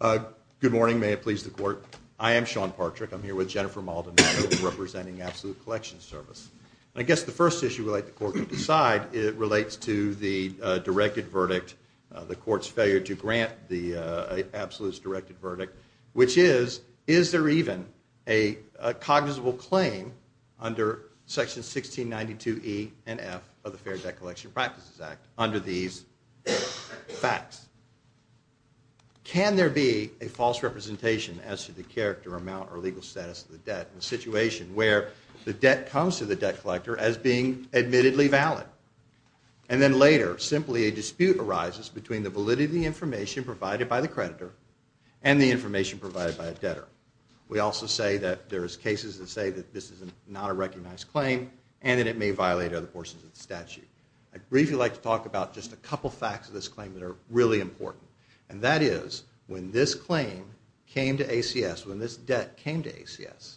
Good morning. May it please the court. I am Sean Partrick. I'm here with Jennifer Maldonado representing Absolute Collection Service. I guess the first issue we'd like the court to decide relates to the directed verdict, the court's failure to grant the absolutes directed verdict, which is, is there even a cognizable claim under section 1692 E and F of the Fair Debt Collection Practices Act under these facts? Can there be a false representation as to the character, amount, or legal status of the debt in a situation where the debt comes to the debt collector as being admittedly valid? And then later, simply a dispute arises between the validity of the information provided by the creditor and the information provided by a debtor. We also say that there's cases that say that this is not a recognized claim and that it may violate other portions of the statute. I'd briefly like to talk about just a couple facts of this claim that are really important. And that is, when this claim came to ACS, when this debt came to ACS,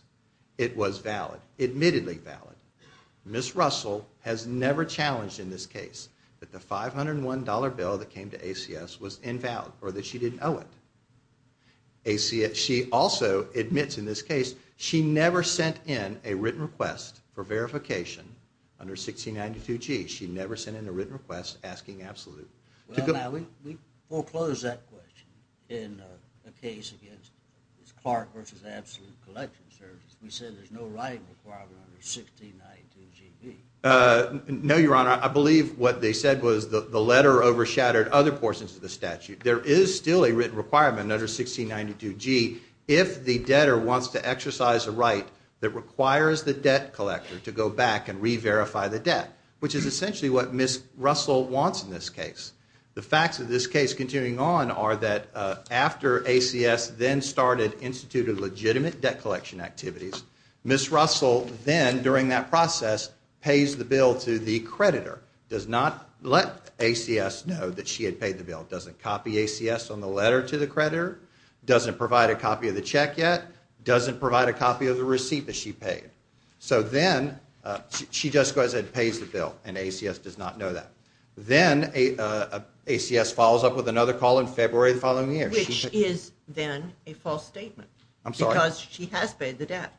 it was valid, admittedly valid. Ms. Russell has never challenged in this case that the $501 bill that came to ACS was invalid or that she didn't owe it. She also admits in this case she never sent in a written request for verification under 1692 G. She never sent in a written request asking Absolute. Now, we foreclosed that question in a case against Clark versus Absolute Collection Services. We said there's no writing requirement under 1692 G. No, Your Honor. I believe what they said was the letter overshadowed other portions of the statute. There is still a written requirement under 1692 G if the debtor wants to exercise a right that requires the debt collector to go back and re-verify the debt, which is essentially what Ms. Russell wants in this case. The facts of this case continuing on are that after ACS then started instituted legitimate debt collection activities, Ms. Russell then, during that process, pays the bill to the creditor. Does not let ACS know that she had paid the bill. Doesn't copy ACS on the letter to the creditor. Doesn't provide a copy of the check yet. Doesn't provide a copy of the receipt that she paid. So then, she just goes and pays the bill and ACS does not know that. Then, ACS follows up with another call in February the following year. Which is then a false statement. I'm sorry. Because she has paid the debt.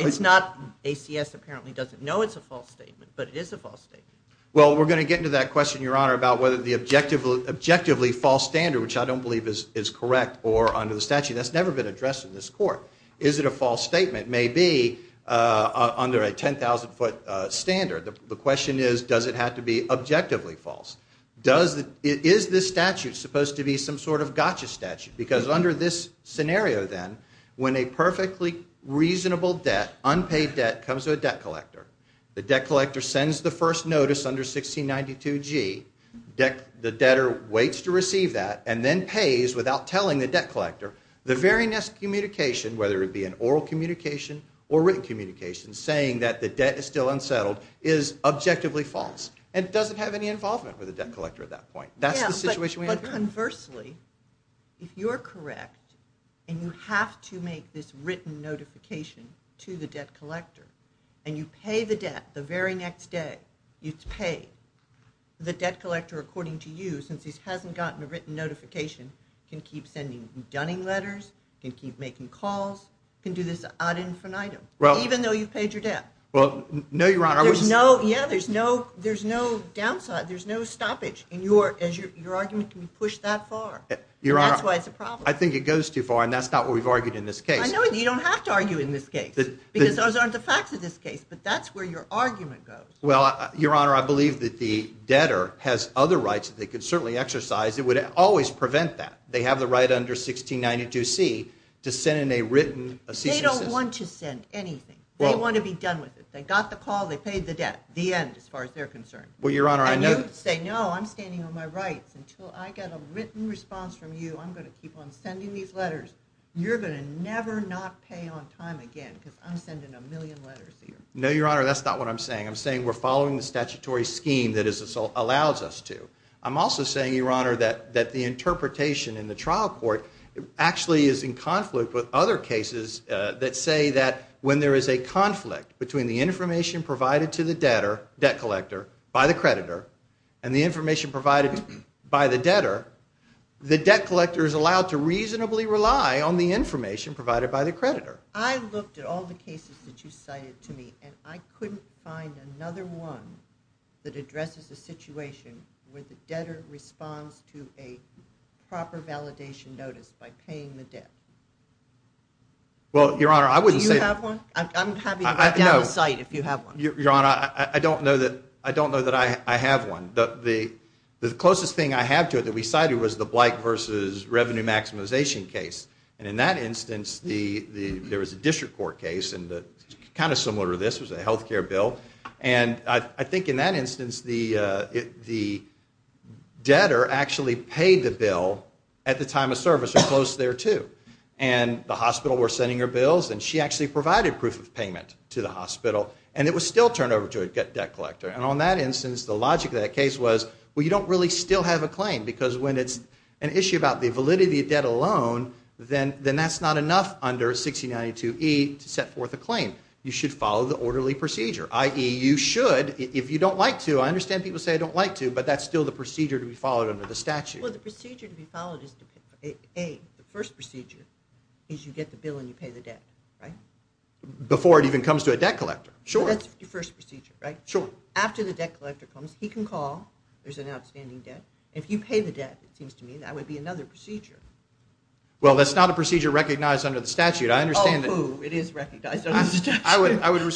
It's not, ACS apparently doesn't know it's a false statement, but it is a false statement. Well, we're going to get into that question, Your Honor, about whether the objectively false standard, which I don't believe is correct or under the statute, that's never been addressed in this court. Is it a false statement? Maybe under a 10,000 foot standard. The question is, does it have to be objectively false? Is this statute supposed to be some sort of gotcha statute? Because under this scenario then, when a perfectly reasonable debt, unpaid debt, comes to a debt collector, the debt collector sends the first notice under 1692G, the debtor waits to receive that, and then pays without telling the debt collector, the very next communication, whether it be an oral communication or written communication, saying that the debt is still unsettled, is objectively false. And it doesn't have any involvement with the debt collector at that point. But conversely, if you're correct, and you have to make this written notification to the debt collector, and you pay the debt the very next day, you pay the debt collector according to you, since he hasn't gotten a written notification, can keep sending you dunning letters, can keep making calls, can do this ad infinitum, even though you've paid your debt. Well, no, Your Honor. Yeah, there's no downside. There's no stoppage. And your argument can be pushed that far. That's why it's a problem. I think it goes too far, and that's not what we've argued in this case. I know. You don't have to argue in this case, because those aren't the facts of this case. But that's where your argument goes. Well, Your Honor, I believe that the debtor has other rights that they could certainly exercise. It would always prevent that. They have the right under 1692C to send in a written assistance. They don't want to send anything. They want to be done with it. They got the call. They paid the debt. The end, as far as they're concerned. And you say, no, I'm standing on my rights. Until I get a written response from you, I'm going to keep on sending these letters. You're going to never not pay on time again, because I'm sending a million letters to you. No, Your Honor, that's not what I'm saying. I'm saying we're following the statutory scheme that it allows us to. I'm also saying, Your Honor, that the interpretation in the trial court actually is in conflict with other cases that say that when there is a conflict between the information provided to the debtor, debt collector, by the creditor, and the information provided by the debtor, the debt collector is allowed to reasonably rely on the information provided by the creditor. However, I looked at all the cases that you cited to me, and I couldn't find another one that addresses the situation where the debtor responds to a proper validation notice by paying the debt. Well, Your Honor, I wouldn't say that. Do you have one? I'm happy to write down the site if you have one. Your Honor, I don't know that I have one. The closest thing I have to it that we cited was the Blight v. Revenue Maximization case. And in that instance, there was a district court case, kind of similar to this, it was a health care bill. And I think in that instance, the debtor actually paid the bill at the time of service or close thereto. And the hospital were sending her bills, and she actually provided proof of payment to the hospital, and it was still turned over to a debt collector. And on that instance, the logic of that case was, well, you don't really still have a claim, because when it's an issue about the validity of debt alone, then that's not enough under 1692E to set forth a claim. You should follow the orderly procedure, i.e., you should, if you don't like to. I understand people say, I don't like to, but that's still the procedure to be followed under the statute. Well, the procedure to be followed is, A, the first procedure is you get the bill and you pay the debt, right? Before it even comes to a debt collector, sure. That's the first procedure, right? Sure. After the debt collector comes, he can call. There's an outstanding debt. If you pay the debt, it seems to me, that would be another procedure. Well, that's not a procedure recognized under the statute. I understand that. Oh, it is recognized under the statute.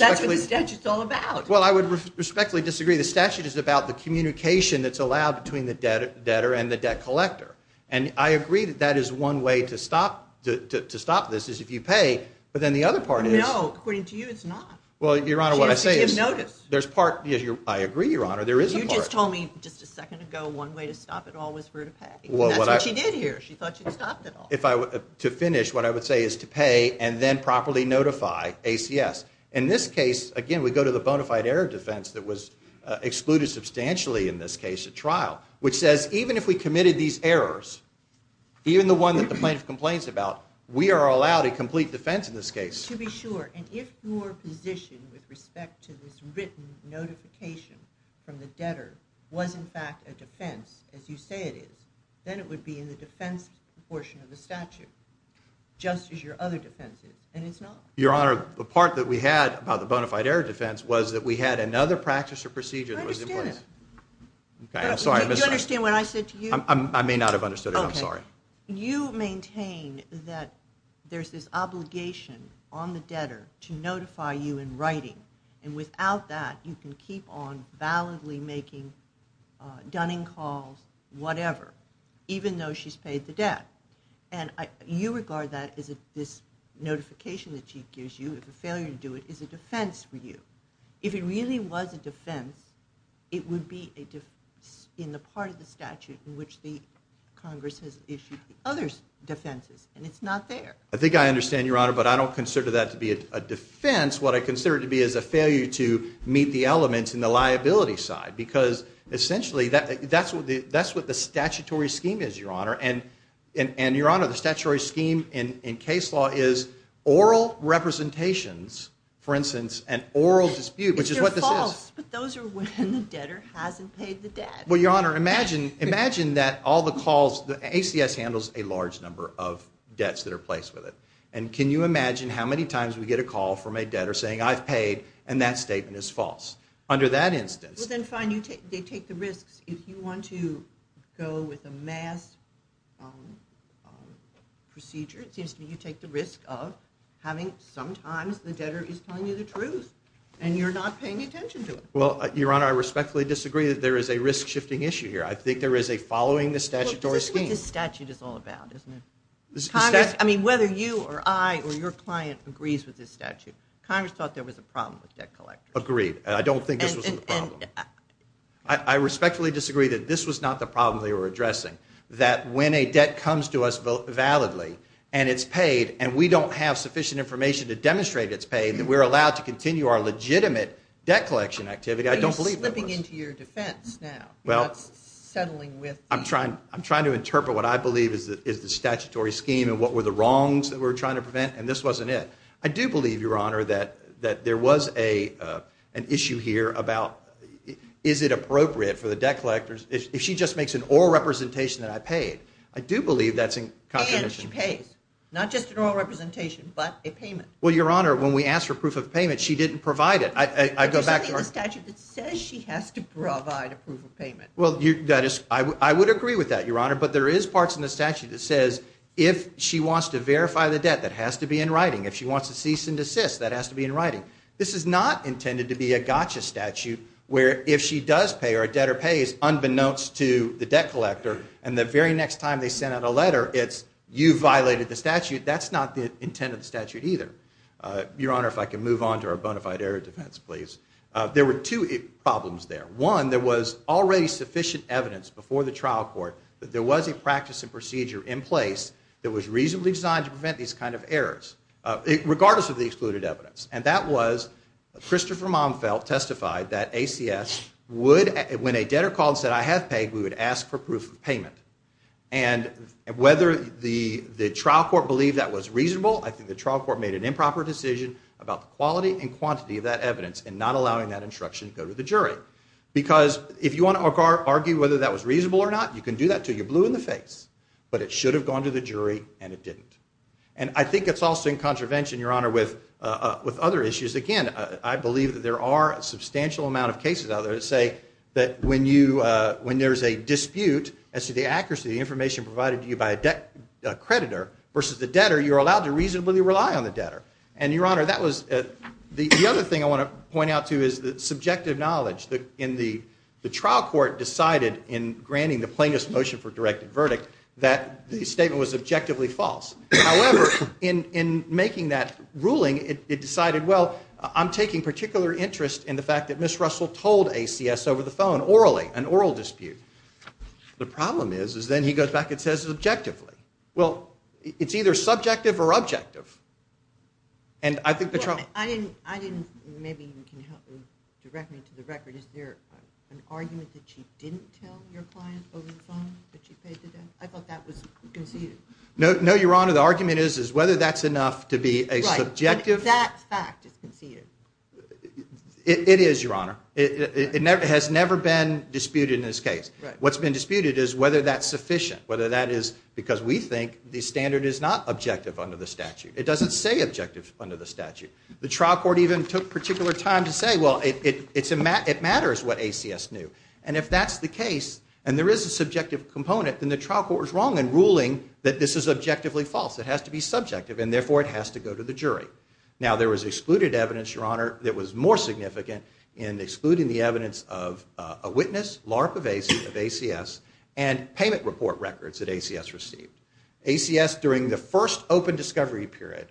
That's what the statute's all about. Well, I would respectfully disagree. The statute is about the communication that's allowed between the debtor and the debt collector. And I agree that that is one way to stop this, is if you pay. But then the other part is. No, according to you, it's not. Well, Your Honor, what I say is. You have to give notice. There's part. I agree, Your Honor. There is a part. You just told me just a second ago one way to stop it all was for her to pay. That's what she did here. She thought she'd stopped it all. To finish, what I would say is to pay and then properly notify ACS. In this case, again, we go to the bona fide error defense that was excluded substantially in this case at trial, which says even if we committed these errors, even the one that the plaintiff complains about, we are allowed a complete defense in this case. To be sure. And if your position with respect to this written notification from the debtor was, in fact, a defense, as you say it is, then it would be in the defense portion of the statute, just as your other defenses. And it's not. Your Honor, the part that we had about the bona fide error defense was that we had another practice or procedure that was in place. I understand that. I'm sorry. Do you understand what I said to you? I may not have understood it. I'm sorry. You maintain that there's this obligation on the debtor to notify you in writing, and without that you can keep on validly making dunning calls, whatever, even though she's paid the debt. And you regard that as this notification that she gives you if a failure to do it is a defense for you. If it really was a defense, it would be in the part of the statute in which the Congress has issued the other defenses, and it's not there. I think I understand, Your Honor, but I don't consider that to be a defense. What I consider it to be is a failure to meet the elements in the liability side, because essentially that's what the statutory scheme is, Your Honor. And, Your Honor, the statutory scheme in case law is oral representations, for instance, and oral dispute, which is what this is. But those are when the debtor hasn't paid the debt. Well, Your Honor, imagine that all the calls, the ACS handles a large number of debts that are placed with it. And can you imagine how many times we get a call from a debtor saying, I've paid, and that statement is false. Under that instance. Well, then fine. They take the risks. If you want to go with a mass procedure, it seems to me you take the risk of having sometimes the debtor is telling you the truth, and you're not paying attention to it. Well, Your Honor, I respectfully disagree that there is a risk-shifting issue here. I think there is a following the statutory scheme. This is what this statute is all about, isn't it? I mean, whether you or I or your client agrees with this statute, Congress thought there was a problem with debt collectors. Agreed. And I don't think this was the problem. I respectfully disagree that this was not the problem they were addressing. That when a debt comes to us validly, and it's paid, and we don't have sufficient information to demonstrate it's paid, that we're allowed to continue our legitimate debt collection activity, I don't believe it was. Are you slipping into your defense now? Well, I'm trying to interpret what I believe is the statutory scheme and what were the wrongs that we're trying to prevent, and this wasn't it. I do believe, Your Honor, that there was an issue here about is it appropriate for the debt collectors, if she just makes an oral representation that I paid. I do believe that's a contradiction. And she pays. Not just an oral representation, but a payment. Well, Your Honor, when we asked for proof of payment, she didn't provide it. There's nothing in the statute that says she has to provide a proof of payment. Well, I would agree with that, Your Honor, but there is parts in the statute that says if she wants to verify the debt, that has to be in writing. If she wants to cease and desist, that has to be in writing. This is not intended to be a gotcha statute where if she does pay or a debtor pays, unbeknownst to the debt collector, and the very next time they send out a letter, it's you violated the statute. That's not the intent of the statute either. Your Honor, if I can move on to our bona fide error defense, please. There were two problems there. One, there was already sufficient evidence before the trial court that there was a practice and procedure in place that was reasonably designed to prevent these kind of errors, regardless of the excluded evidence. And that was Christopher Momfeld testified that ACS would, when a debtor called and said, I have paid, we would ask for proof of payment. And whether the trial court believed that was reasonable, I think the trial court made an improper decision about the quality and quantity of that evidence in not allowing that instruction to go to the jury. Because if you want to argue whether that was reasonable or not, you can do that until you're blue in the face. But it should have gone to the jury, and it didn't. And I think it's also in contravention, Your Honor, with other issues. Again, I believe that there are a substantial amount of cases out there that say that when there's a dispute as to the accuracy of the information provided to you by a creditor versus the debtor, you're allowed to reasonably rely on the debtor. And, Your Honor, that was the other thing I want to point out too is the subjective knowledge. The trial court decided in granting the plaintiff's motion for directed verdict that the statement was objectively false. However, in making that ruling, it decided, well, I'm taking particular interest in the fact that Ms. Russell told ACS over the phone orally, an oral dispute. The problem is then he goes back and says it's objectively. Well, it's either subjective or objective. I didn't, maybe you can help me, direct me to the record. Is there an argument that she didn't tell your client over the phone that she paid the debt? I thought that was conceded. No, Your Honor. The argument is whether that's enough to be a subjective. That fact is conceded. It is, Your Honor. It has never been disputed in this case. What's been disputed is whether that's sufficient. Whether that is because we think the standard is not objective under the statute. It doesn't say objective under the statute. The trial court even took particular time to say, well, it matters what ACS knew. And if that's the case and there is a subjective component, then the trial court is wrong in ruling that this is objectively false. It has to be subjective and, therefore, it has to go to the jury. Now, there was excluded evidence, Your Honor, that was more significant in excluding the evidence of a witness, LARP of ACS, and payment report records that ACS received. ACS, during the first open discovery period,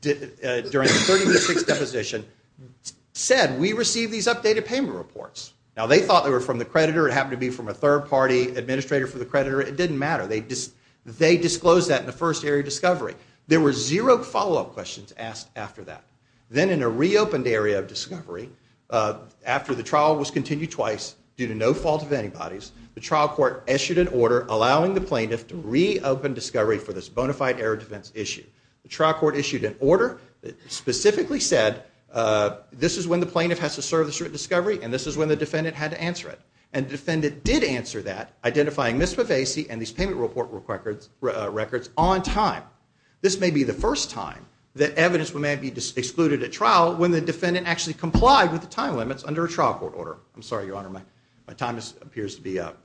during the 36th deposition, said, we received these updated payment reports. Now, they thought they were from the creditor. It happened to be from a third-party administrator for the creditor. It didn't matter. They disclosed that in the first area of discovery. There were zero follow-up questions asked after that. Then, in a reopened area of discovery, after the trial was continued twice due to no fault of antibodies, the trial court issued an order allowing the plaintiff to reopen discovery for this bona fide area of defense issue. The trial court issued an order that specifically said, this is when the plaintiff has to serve this discovery, and this is when the defendant had to answer it. And the defendant did answer that, identifying Ms. Pavese and these payment report records on time. This may be the first time that evidence may be excluded at trial when the defendant actually complied with the time limits under a trial court order. I'm sorry, Your Honor, my time appears to be up.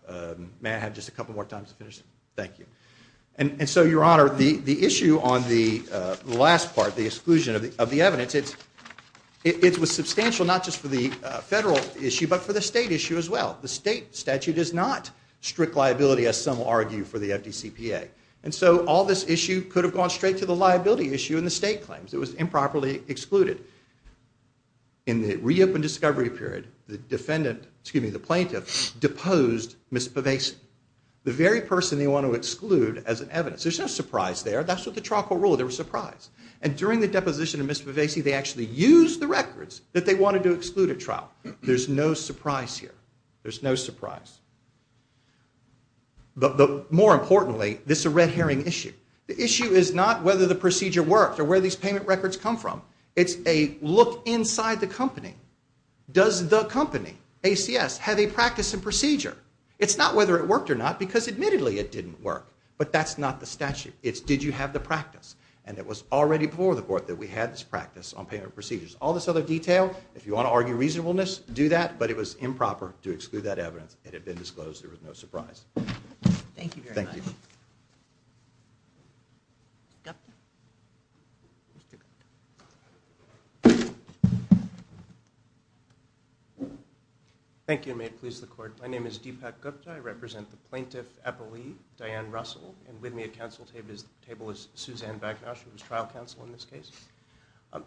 May I have just a couple more times to finish? Thank you. And so, Your Honor, the issue on the last part, the exclusion of the evidence, it was substantial not just for the federal issue but for the state issue as well. The state statute is not strict liability, as some argue, for the FDCPA. And so, all this issue could have gone straight to the liability issue in the state claims. It was improperly excluded. In the reopened discovery period, the plaintiff deposed Ms. Pavese, the very person they want to exclude as evidence. There's no surprise there. That's what the trial court ruled. There was surprise. And during the deposition of Ms. Pavese, they actually used the records that they wanted to exclude at trial. There's no surprise here. There's no surprise. But more importantly, this is a red herring issue. The issue is not whether the procedure worked or where these payment records come from. It's a look inside the company. Does the company, ACS, have a practice and procedure? It's not whether it worked or not because admittedly it didn't work. But that's not the statute. It's did you have the practice. And it was already before the court that we had this practice on payment procedures. All this other detail, if you want to argue reasonableness, do that. But it was improper to exclude that evidence. It had been disclosed. There was no surprise. Thank you very much. Thank you. Thank you. May it please the court. My name is Deepak Gupta. I represent the plaintiff appellee, Diane Russell. And with me at council table is Suzanne Bagnosh, who was trial counsel in this case.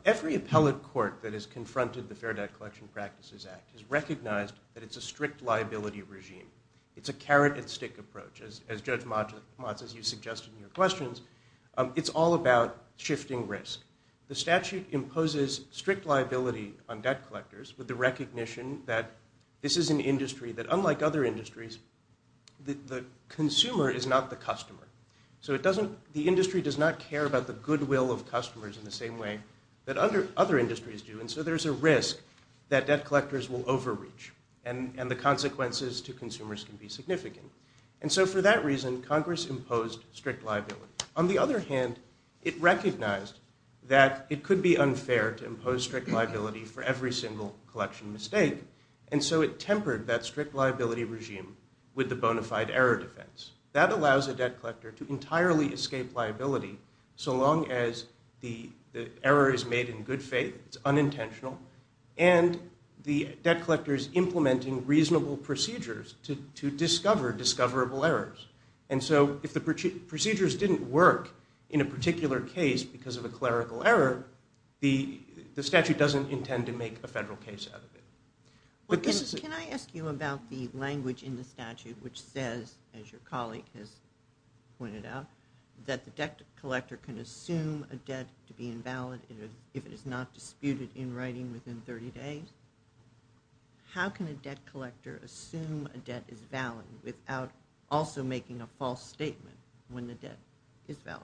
Every appellate court that has confronted the Fair Debt Collection Practices Act has recognized that it's a strict liability regime. It's a carrot and stick approach. As Judge Motz, as you suggested in your questions, it's all about shifting risk. The statute imposes strict liability on debt collectors with the recognition that this is an industry that, unlike other industries, the consumer is not the customer. So the industry does not care about the goodwill of customers in the same way that other industries do. And so there's a risk that debt collectors will overreach and the consequences to consumers can be significant. And so for that reason, Congress imposed strict liability. On the other hand, it recognized that it could be unfair to impose strict liability for every single collection mistake. And so it tempered that strict liability regime with the bona fide error defense. That allows a debt collector to entirely escape liability so long as the error is made in good faith, it's unintentional, and the debt collector is implementing reasonable procedures to discover discoverable errors. And so if the procedures didn't work in a particular case because of a clerical error, the statute doesn't intend to make a federal case out of it. Can I ask you about the language in the statute which says, as your colleague has pointed out, that the debt collector can assume a debt to be invalid if it is not disputed in writing within 30 days? How can a debt collector assume a debt is valid without also making a false statement when the debt is valid?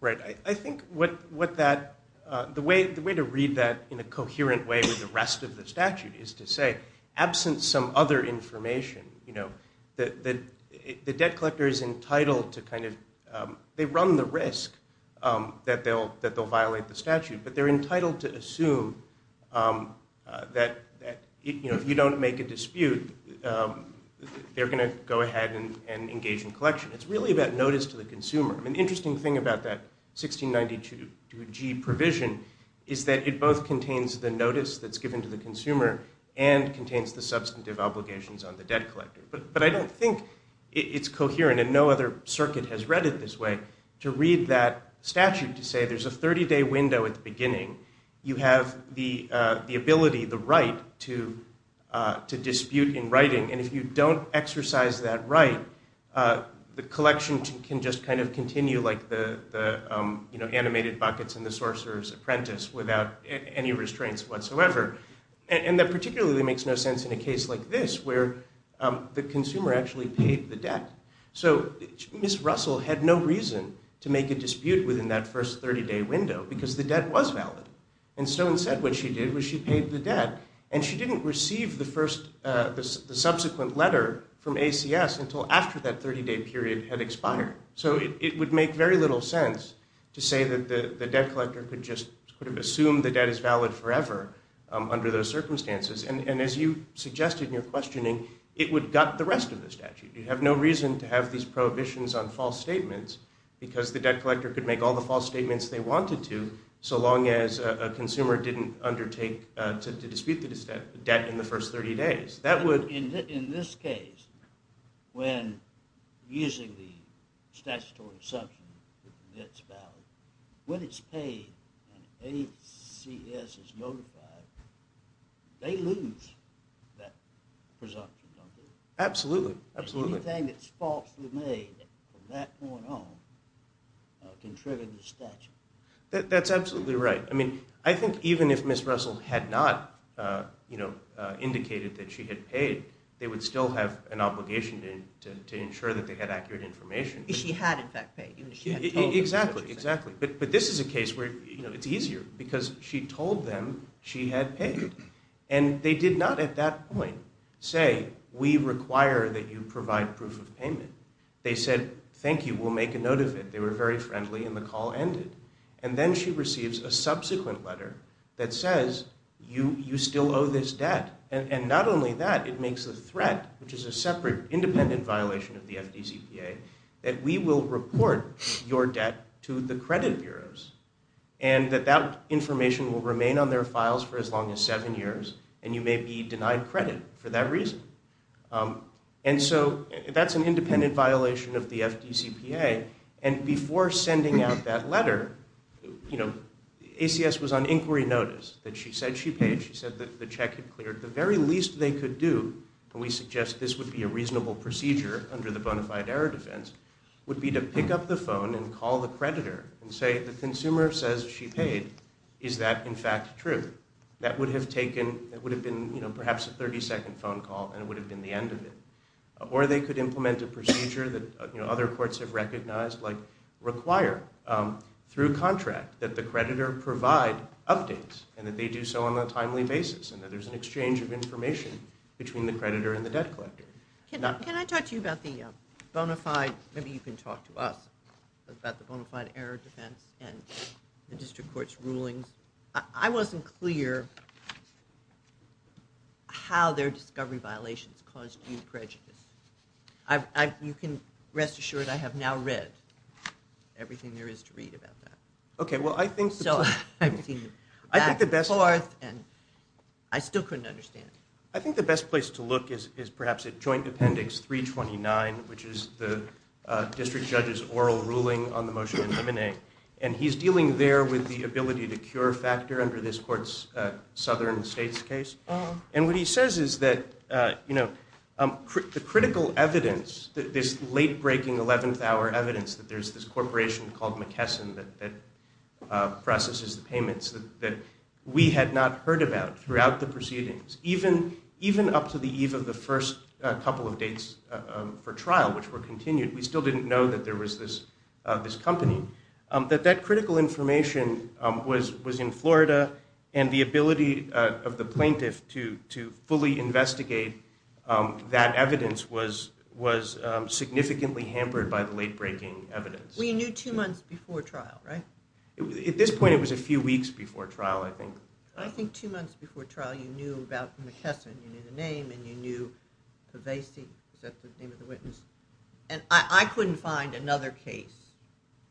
Right. I think the way to read that in a coherent way with the rest of the statute is to say, absent some other information, the debt collector is entitled to kind of, they run the risk that they'll violate the statute, but they're entitled to assume that if you don't make a dispute, they're going to go ahead and engage in collection. It's really about notice to the consumer. The interesting thing about that 1692G provision is that it both contains the notice that's given to the consumer and contains the substantive obligations on the debt collector. But I don't think it's coherent, and no other circuit has read it this way, to read that statute to say there's a 30-day window at the beginning. You have the ability, the right, to dispute in writing, and if you don't exercise that right, the collection can just kind of continue like the animated Buckets and the Sorcerer's Apprentice without any restraints whatsoever. And that particularly makes no sense in a case like this where the consumer actually paid the debt. So Ms. Russell had no reason to make a dispute within that first 30-day window because the debt was valid. And Stone said what she did was she paid the debt, and she didn't receive the subsequent letter from ACS until after that 30-day period had expired. So it would make very little sense to say that the debt collector could just sort of assume the debt is valid forever under those circumstances. And as you suggested in your questioning, it would gut the rest of the statute. You have no reason to have these prohibitions on false statements because the debt collector could make all the false statements they wanted to so long as a consumer didn't undertake to dispute the debt in the first 30 days. In this case, when using the statutory assumption that the debt's valid, when it's paid and ACS is notified, they lose that presumption, don't they? Absolutely, absolutely. Anything that's falsely made from that point on can trigger the statute. That's absolutely right. I mean, I think even if Ms. Russell had not indicated that she had paid, they would still have an obligation to ensure that they had accurate information. She had, in fact, paid. Exactly, exactly. But this is a case where it's easier because she told them she had paid. And they did not at that point say, we require that you provide proof of payment. They said, thank you, we'll make a note of it. They were very friendly and the call ended. And then she receives a subsequent letter that says, you still owe this debt. And not only that, it makes a threat, which is a separate independent violation of the FDCPA, that we will report your debt to the credit bureaus. And that that information will remain on their files for as long as seven years and you may be denied credit for that reason. And so that's an independent violation of the FDCPA. And before sending out that letter, you know, ACS was on inquiry notice that she said she paid. She said that the check had cleared. The very least they could do, and we suggest this would be a reasonable procedure under the bona fide error defense, would be to pick up the phone and call the creditor and say, the consumer says she paid. Is that, in fact, true? That would have taken, that would have been, you know, perhaps a 30-second phone call and it would have been the end of it. Or they could implement a procedure that, you know, other courts have recognized, like require through contract that the creditor provide updates and that they do so on a timely basis and that there's an exchange of information between the creditor and the debt collector. Can I talk to you about the bona fide? Maybe you can talk to us about the bona fide error defense and the district court's rulings. I wasn't clear how their discovery violations caused you prejudice. You can rest assured I have now read everything there is to read about that. Okay, well, I think the best. So I've seen the back and forth and I still couldn't understand. I think the best place to look is perhaps at joint appendix 329, which is the district judge's oral ruling on the motion to eliminate. And he's dealing there with the ability to cure factor under this court's southern states case. And what he says is that, you know, the critical evidence, this late-breaking 11th hour evidence, that there's this corporation called McKesson that processes the payments, that we had not heard about throughout the proceedings, even up to the eve of the first couple of dates for trial, which were continued, we still didn't know that there was this company, that that critical information was in Florida and the ability of the plaintiff to fully investigate that evidence was significantly hampered by the late-breaking evidence. We knew two months before trial, right? At this point, it was a few weeks before trial, I think. I think two months before trial, you knew about McKesson. You knew the name and you knew Pavese. Is that the name of the witness? And I couldn't find another case,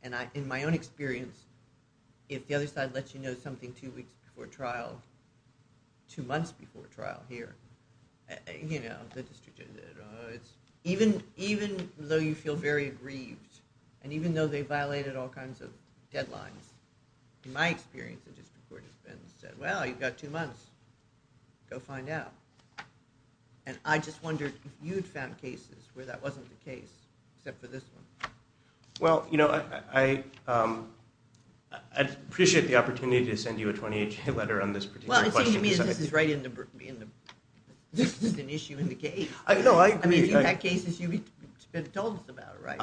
and in my own experience, if the other side lets you know something two weeks before trial, two months before trial here, you know, the district judge, even though you feel very aggrieved and even though they violated all kinds of deadlines, in my experience, the district court has said, well, you've got two months, go find out. And I just wondered if you'd found cases where that wasn't the case, except for this one. Well, you know, I'd appreciate the opportunity to send you a 28-day letter on this particular question. Well, it seems to me that this is right in the – this is an issue in the case. No, I agree. I mean, if you had cases, you would have told us about it, right?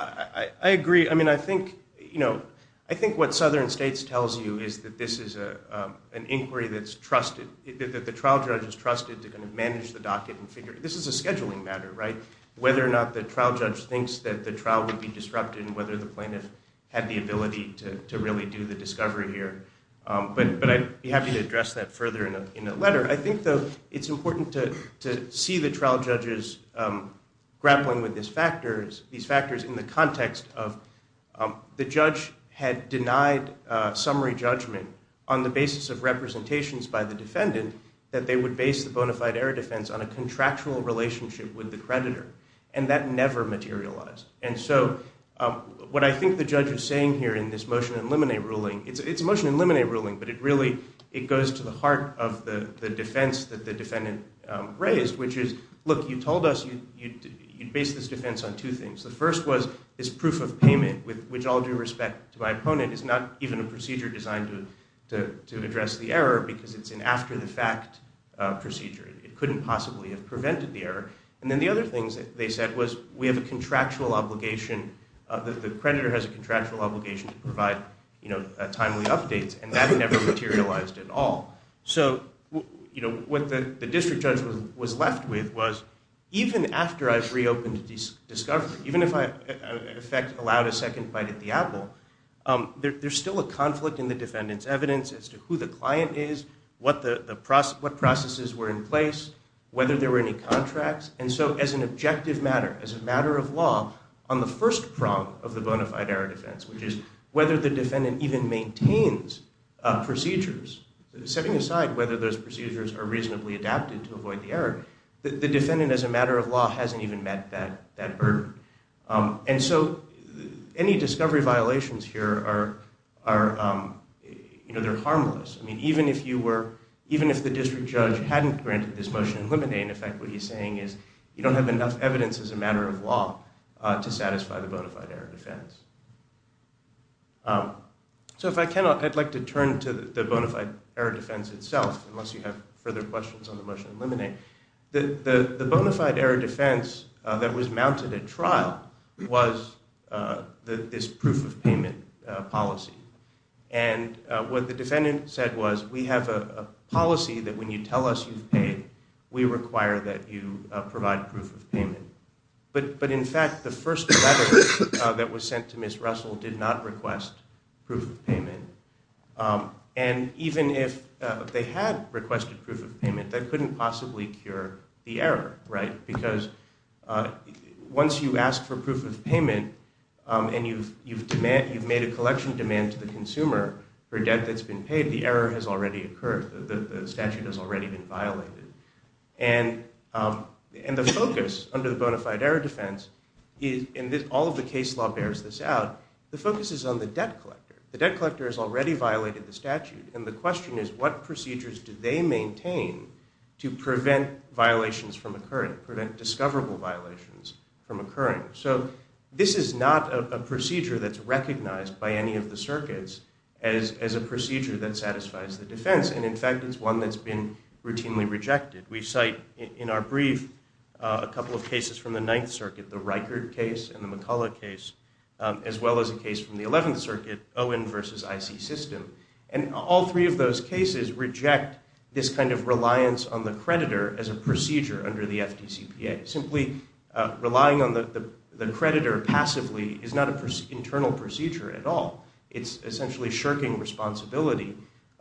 I agree. I mean, I think, you know, I think what Southern States tells you is that this is an inquiry that's trusted, that the trial judge is trusted to kind of manage the docket and figure – this is a scheduling matter, right, whether or not the trial judge thinks that the trial would be disrupted and whether the plaintiff had the ability to really do the discovery here. But I'd be happy to address that further in a letter. I think, though, it's important to see the trial judges grappling with these factors, these factors in the context of the judge had denied summary judgment on the basis of representations by the defendant that they would base the bona fide error defense on a contractual relationship with the creditor, and that never materialized. And so what I think the judge is saying here in this motion to eliminate ruling, it's a motion to eliminate ruling, but it really goes to the heart of the defense that the defendant raised, which is, look, you told us you'd base this defense on two things. The first was this proof of payment, which all due respect to my opponent, is not even a procedure designed to address the error because it's an after-the-fact procedure. It couldn't possibly have prevented the error. And then the other thing they said was we have a contractual obligation, the creditor has a contractual obligation to provide timely updates, and that never materialized at all. So what the district judge was left with was even after I was reopened to discovery, even if I, in effect, allowed a second bite at the apple, there's still a conflict in the defendant's evidence as to who the client is, what processes were in place, whether there were any contracts. And so as an objective matter, as a matter of law, on the first prong of the bona fide error defense, which is whether the defendant even maintains procedures, setting aside whether those procedures are reasonably adapted to avoid the error, the defendant as a matter of law hasn't even met that burden. And so any discovery violations here are, you know, they're harmless. I mean, even if the district judge hadn't granted this motion to eliminate, in effect what he's saying is you don't have enough evidence as a matter of law to satisfy the bona fide error defense. So if I cannot, I'd like to turn to the bona fide error defense itself, unless you have further questions on the motion to eliminate. The bona fide error defense that was mounted at trial was this proof of payment policy. And what the defendant said was we have a policy that when you tell us you've paid, we require that you provide proof of payment. But in fact, the first letter that was sent to Ms. Russell did not request proof of payment. And even if they had requested proof of payment, that couldn't possibly cure the error, right? Because once you ask for proof of payment and you've made a collection demand to the consumer for debt that's been paid, the error has already occurred. The statute has already been violated. And the focus under the bona fide error defense, and all of the case law bears this out, the focus is on the debt collector. The debt collector has already violated the statute, and the question is what procedures do they maintain to prevent violations from occurring, prevent discoverable violations from occurring? So this is not a procedure that's recognized by any of the circuits as a procedure that satisfies the defense. And, in fact, it's one that's been routinely rejected. We cite in our brief a couple of cases from the Ninth Circuit, the Reichert case and the McCulloch case, as well as a case from the Eleventh Circuit, Owen v. IC System. And all three of those cases reject this kind of reliance on the creditor as a procedure under the FDCPA, simply relying on the creditor passively is not an internal procedure at all. It's essentially shirking responsibility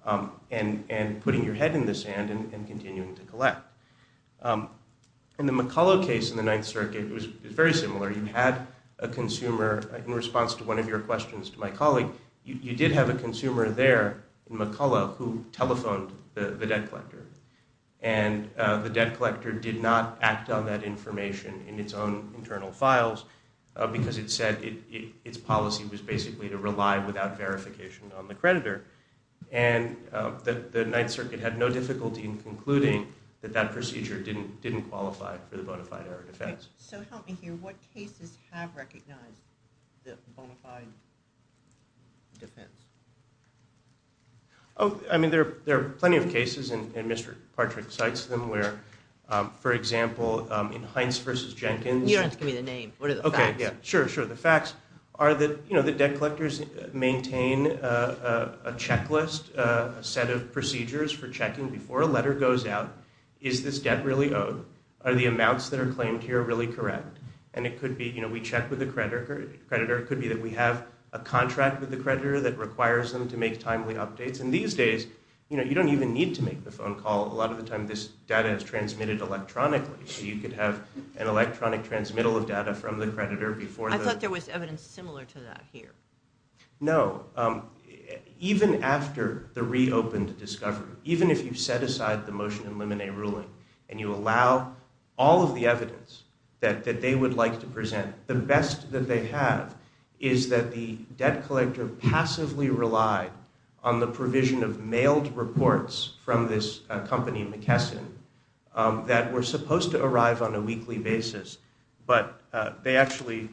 and putting your head in the sand and continuing to collect. In the McCulloch case in the Ninth Circuit, it was very similar. You had a consumer, in response to one of your questions to my colleague, you did have a consumer there in McCulloch who telephoned the debt collector, and the debt collector did not act on that information in its own internal files because it said its policy was basically to rely without verification on the creditor. And the Ninth Circuit had no difficulty in concluding that that procedure didn't qualify for the bona fide error defense. So help me here. What cases have recognized the bona fide defense? Oh, I mean, there are plenty of cases, and Mr. Partrick cites them, where, for example, in Heinz v. Jenkins. You don't have to give me the name. What are the facts? Okay, yeah, sure, sure. The facts are that, you know, the debt collectors maintain a checklist, a set of procedures for checking before a letter goes out, is this debt really owed? Are the amounts that are claimed here really correct? And it could be, you know, we check with the creditor. It could be that we have a contract with the creditor that requires them to make timely updates. And these days, you know, you don't even need to make the phone call. A lot of the time, this data is transmitted electronically, so you could have an electronic transmittal of data from the creditor before the— I thought there was evidence similar to that here. No. Even after the reopened discovery, even if you set aside the motion in Lemonnet ruling and you allow all of the evidence that they would like to present, the best that they have is that the debt collector passively relied on the provision of mailed reports from this company, McKesson, that were supposed to arrive on a weekly basis, but they actually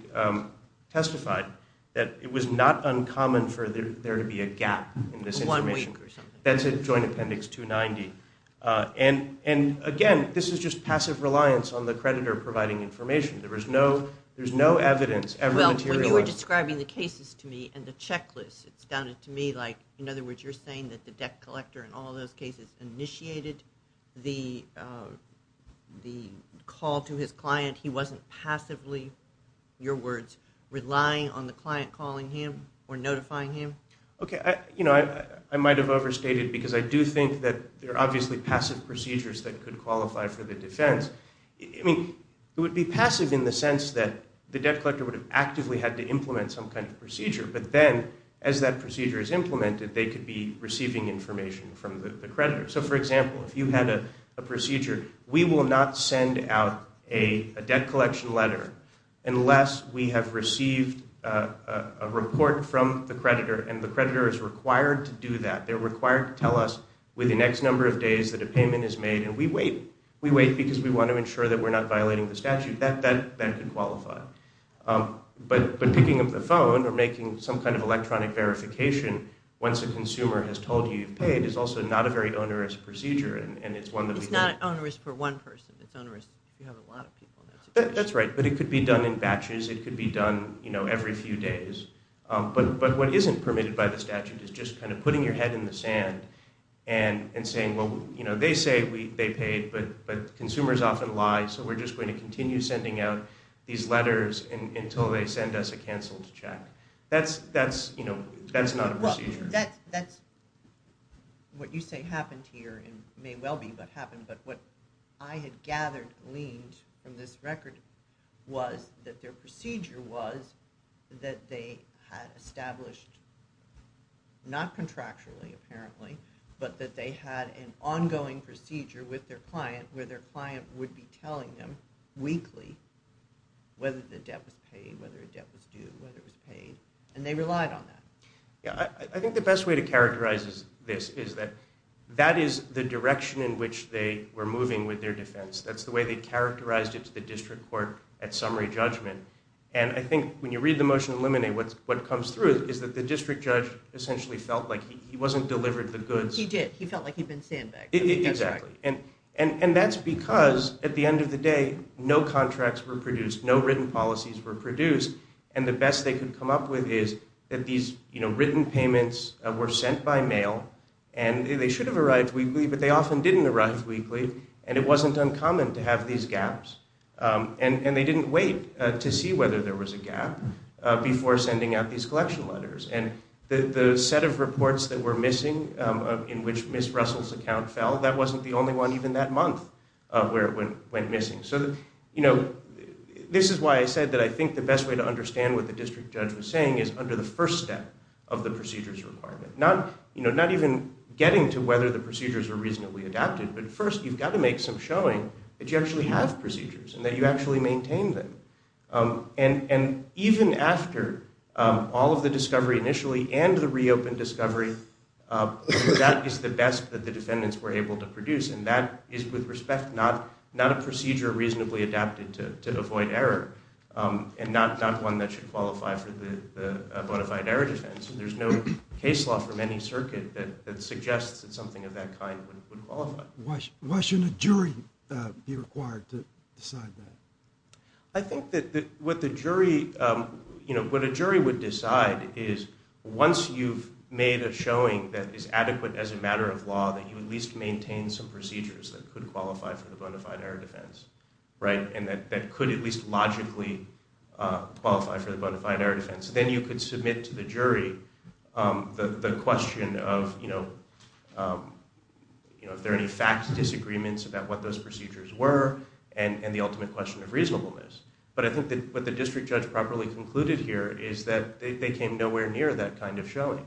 testified that it was not uncommon for there to be a gap in this information. One week or something. That's in Joint Appendix 290. And again, this is just passive reliance on the creditor providing information. There's no evidence ever materialized. Well, when you were describing the cases to me and the checklist, it sounded to me like, in other words, you're saying that the debt collector in all those cases initiated the call to his client. He wasn't passively, your words, relying on the client calling him or notifying him? Okay. You know, I might have overstated because I do think that there are obviously passive procedures that could qualify for the defense. I mean, it would be passive in the sense that the debt collector would have actively had to implement some kind of procedure, but then as that procedure is implemented, they could be receiving information from the creditor. So, for example, if you had a procedure, we will not send out a debt collection letter unless we have received a report from the creditor, and the creditor is required to do that. They're required to tell us within X number of days that a payment is made, and we wait. We wait because we want to ensure that we're not violating the statute. That could qualify. But picking up the phone or making some kind of electronic verification once a consumer has told you you've paid is also not a very onerous procedure, and it's one that we don't... It's not onerous for one person. It's onerous if you have a lot of people in that situation. That's right, but it could be done in batches. It could be done every few days. But what isn't permitted by the statute is just kind of putting your head in the sand and saying, well, they say they paid, but consumers often lie, so we're just going to continue sending out these letters until they send us a canceled check. That's not a procedure. That's what you say happened here and may well be what happened, but what I had gathered, gleaned from this record, was that their procedure was that they had established, not contractually apparently, but that they had an ongoing procedure with their client where their client would be telling them weekly whether the debt was paid, whether the debt was due, whether it was paid, and they relied on that. I think the best way to characterize this is that that is the direction in which they were moving with their defense. That's the way they characterized it to the district court at summary judgment, and I think when you read the motion to eliminate, what comes through is that the district judge essentially felt like he wasn't delivered the goods. He did. He felt like he'd been sandbagged. Exactly, and that's because at the end of the day, no contracts were produced, no written policies were produced, and the best they could come up with is that these written payments were sent by mail, and they should have arrived weekly, but they often didn't arrive weekly, and it wasn't uncommon to have these gaps, and they didn't wait to see whether there was a gap before sending out these collection letters, and the set of reports that were missing in which Ms. Russell's account fell, that wasn't the only one even that month where it went missing. This is why I said that I think the best way to understand what the district judge was saying is under the first step of the procedures requirement, not even getting to whether the procedures were reasonably adapted, but first you've got to make some showing that you actually have procedures and that you actually maintain them, and even after all of the discovery initially and the reopened discovery, that is the best that the defendants were able to produce, and that is with respect not a procedure reasonably adapted to avoid error, and not one that should qualify for the bona fide error defense. There's no case law from any circuit that suggests that something of that kind would qualify. Why shouldn't a jury be required to decide that? I think that what a jury would decide is once you've made a showing that is adequate as a matter of law, that you at least maintain some procedures that could qualify for the bona fide error defense, and that could at least logically qualify for the bona fide error defense. Then you could submit to the jury the question of if there are any facts, disagreements about what those procedures were, and the ultimate question of reasonableness. But I think what the district judge properly concluded here is that they came nowhere near that kind of showing.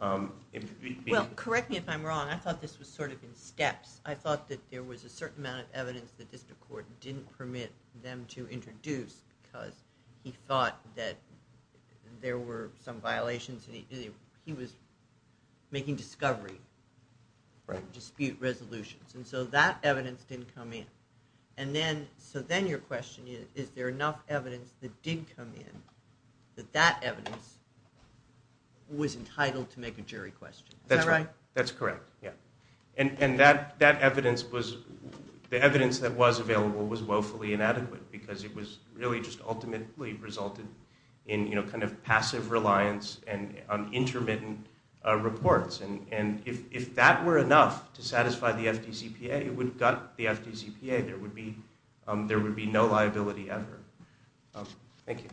Well, correct me if I'm wrong. I thought this was sort of in steps. I thought that there was a certain amount of evidence the district court didn't permit them to introduce because he thought that there were some violations, and he was making discovery, dispute resolutions, and so that evidence didn't come in. So then your question is, is there enough evidence that did come in that that evidence was entitled to make a jury question? Is that right? That's correct, yeah. And that evidence was, the evidence that was available was woefully inadequate because it was really just ultimately resulted in kind of passive reliance on intermittent reports. And if that were enough to satisfy the FDCPA, it would gut the FDCPA. There would be no liability ever. Thank you.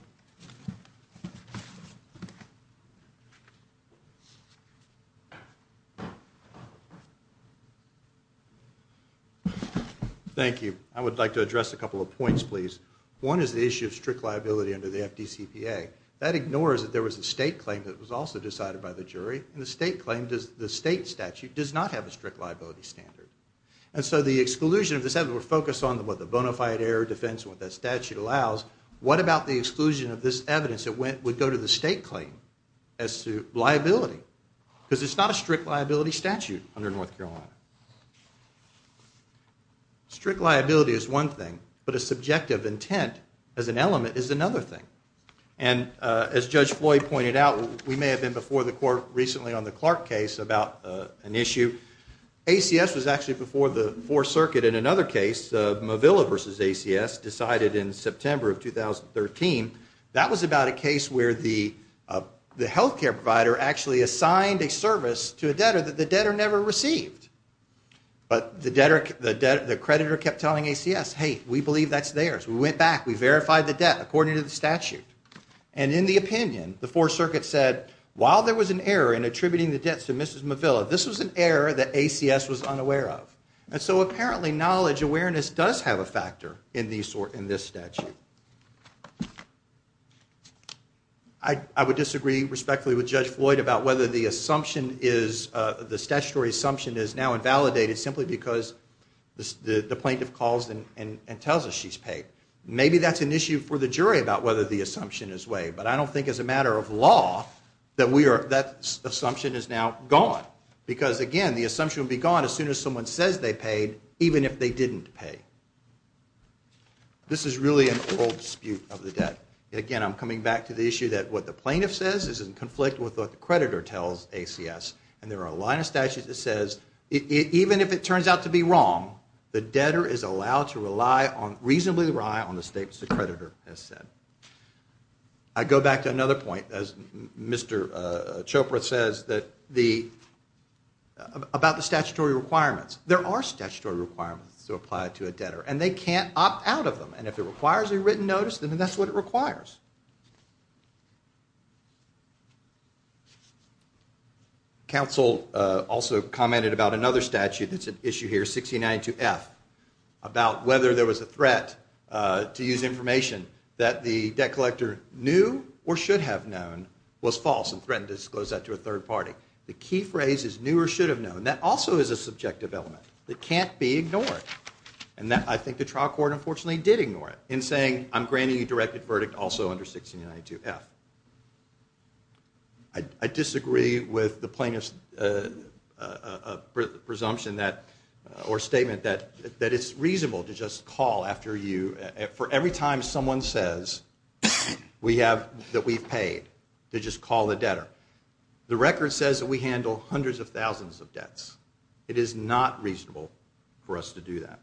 Thank you. I would like to address a couple of points, please. One is the issue of strict liability under the FDCPA. That ignores that there was a state claim that was also decided by the jury, and the state claim, the state statute, does not have a strict liability standard. And so the exclusion of this evidence would focus on what the bona fide error defense, what that statute allows. What about the exclusion of this evidence that would go to the state claim as to liability? Because it's not a strict liability statute under North Carolina. Strict liability is one thing, but a subjective intent as an element is another thing. And as Judge Floyd pointed out, we may have been before the court recently on the Clark case about an issue. ACS was actually before the Fourth Circuit in another case. The Mavilla versus ACS decided in September of 2013. That was about a case where the health care provider actually assigned a service to a debtor that the debtor never received. But the creditor kept telling ACS, hey, we believe that's theirs. We went back. We verified the debt according to the statute. And in the opinion, the Fourth Circuit said, while there was an error in attributing the debts to Mrs. Mavilla, this was an error that ACS was unaware of. And so apparently knowledge, awareness does have a factor in this statute. I would disagree respectfully with Judge Floyd about whether the assumption is, the statutory assumption is now invalidated simply because the plaintiff calls and tells us she's paid. Maybe that's an issue for the jury about whether the assumption is waived. But I don't think as a matter of law that assumption is now gone. Because, again, the assumption will be gone as soon as someone says they paid, even if they didn't pay. This is really an old dispute of the debt. Again, I'm coming back to the issue that what the plaintiff says is in conflict with what the creditor tells ACS. And there are a line of statutes that says, even if it turns out to be wrong, the debtor is allowed to rely on, reasonably rely on the statements the creditor has said. I go back to another point, as Mr. Chopra says, about the statutory requirements. There are statutory requirements to apply to a debtor, and they can't opt out of them. And if it requires a written notice, then that's what it requires. Counsel also commented about another statute that's at issue here, 1692F, about whether there was a threat to use information that the debt collector knew or should have known was false and threatened to disclose that to a third party. The key phrase is knew or should have known. That also is a subjective element that can't be ignored. And I think the trial court, unfortunately, did ignore it in saying, I'm granting you directed verdict also under 1692F. I disagree with the plaintiff's presumption or statement that it's reasonable to just call after you, for every time someone says that we've paid, to just call the debtor. The record says that we handle hundreds of thousands of debts. It is not reasonable for us to do that.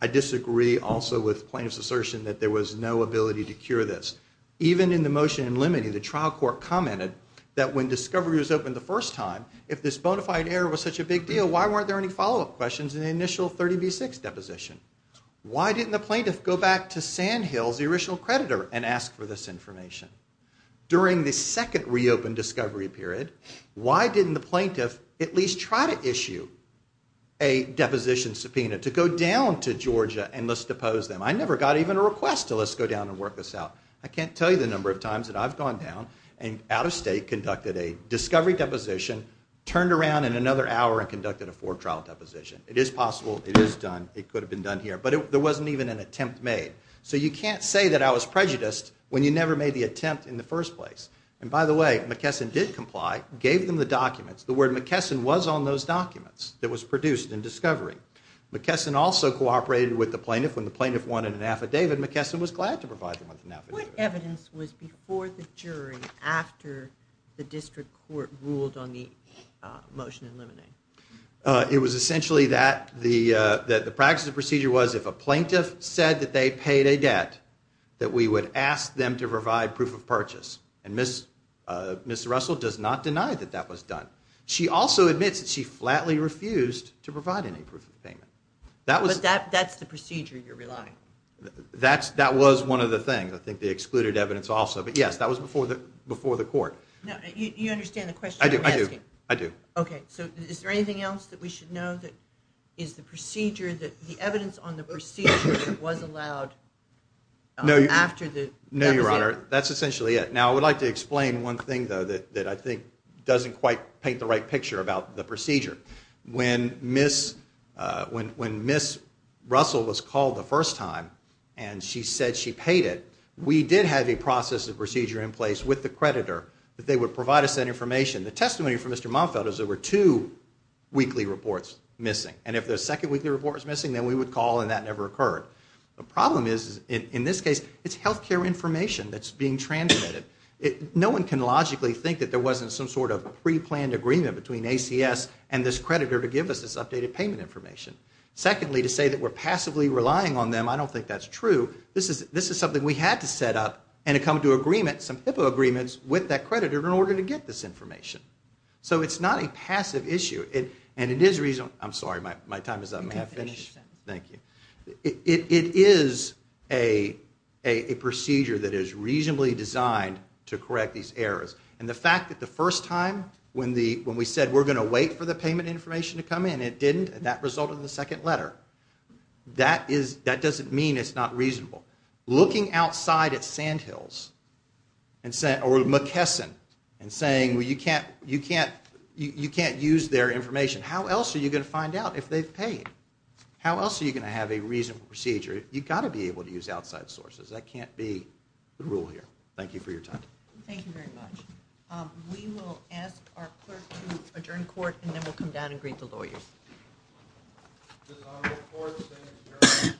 I disagree also with plaintiff's assertion that there was no ability to cure this. Even in the motion in limine, the trial court commented that when discovery was opened the first time, if this bona fide error was such a big deal, why weren't there any follow-up questions in the initial 30B6 deposition? Why didn't the plaintiff go back to Sandhills, the original creditor, and ask for this information? During the second reopened discovery period, why didn't the plaintiff at least try to issue a deposition subpoena to go down to Georgia and let's depose them? I never got even a request to let's go down and work this out. I can't tell you the number of times that I've gone down and out of state, conducted a discovery deposition, turned around in another hour and conducted a four trial deposition. It is possible. It is done. It could have been done here. But there wasn't even an attempt made. So you can't say that I was prejudiced when you never made the attempt in the first place. And by the way, McKesson did comply, gave them the documents. The word McKesson was on those documents that was produced in discovery. McKesson also cooperated with the plaintiff. When the plaintiff wanted an affidavit, McKesson was glad to provide them with an affidavit. What evidence was before the jury after the district court ruled on the motion in limine? It was essentially that the practice of the procedure was if a plaintiff said that they paid a debt, that we would ask them to provide proof of purchase. And Ms. Russell does not deny that that was done. She also admits that she flatly refused to provide any proof of payment. But that's the procedure you're relying on. That was one of the things. I think they excluded evidence also. But yes, that was before the court. Now, you understand the question I'm asking? I do. I do. Okay. So is there anything else that we should know that is the procedure, the evidence on the procedure that was allowed after the deficit? No, Your Honor. That's essentially it. Now, I would like to explain one thing, though, that I think doesn't quite paint the right picture about the procedure. When Ms. Russell was called the first time and she said she paid it, we did have a process of procedure in place with the creditor that they would provide us that information. The testimony from Mr. Momfeld is there were two weekly reports missing. And if the second weekly report was missing, then we would call and that never occurred. The problem is, in this case, it's health care information that's being transmitted. No one can logically think that there wasn't some sort of preplanned agreement between ACS and this creditor to give us this updated payment information. Secondly, to say that we're passively relying on them, I don't think that's true. This is something we had to set up and come to agreement, some HIPAA agreements, with that creditor in order to get this information. So it's not a passive issue. And it is a reasonable – I'm sorry, my time is up. Thank you. It is a procedure that is reasonably designed to correct these errors. And the fact that the first time when we said we're going to wait for the payment information to come in, it didn't, that resulted in the second letter. That doesn't mean it's not reasonable. Looking outside at Sandhills or McKesson and saying you can't use their information, how else are you going to find out if they've paid? How else are you going to have a reasonable procedure? You've got to be able to use outside sources. That can't be the rule here. Thank you for your time. Thank you very much. We will ask our clerk to adjourn court, and then we'll come down and greet the lawyers. This honorable court stands adjourned. I now say the United States dishonorable court.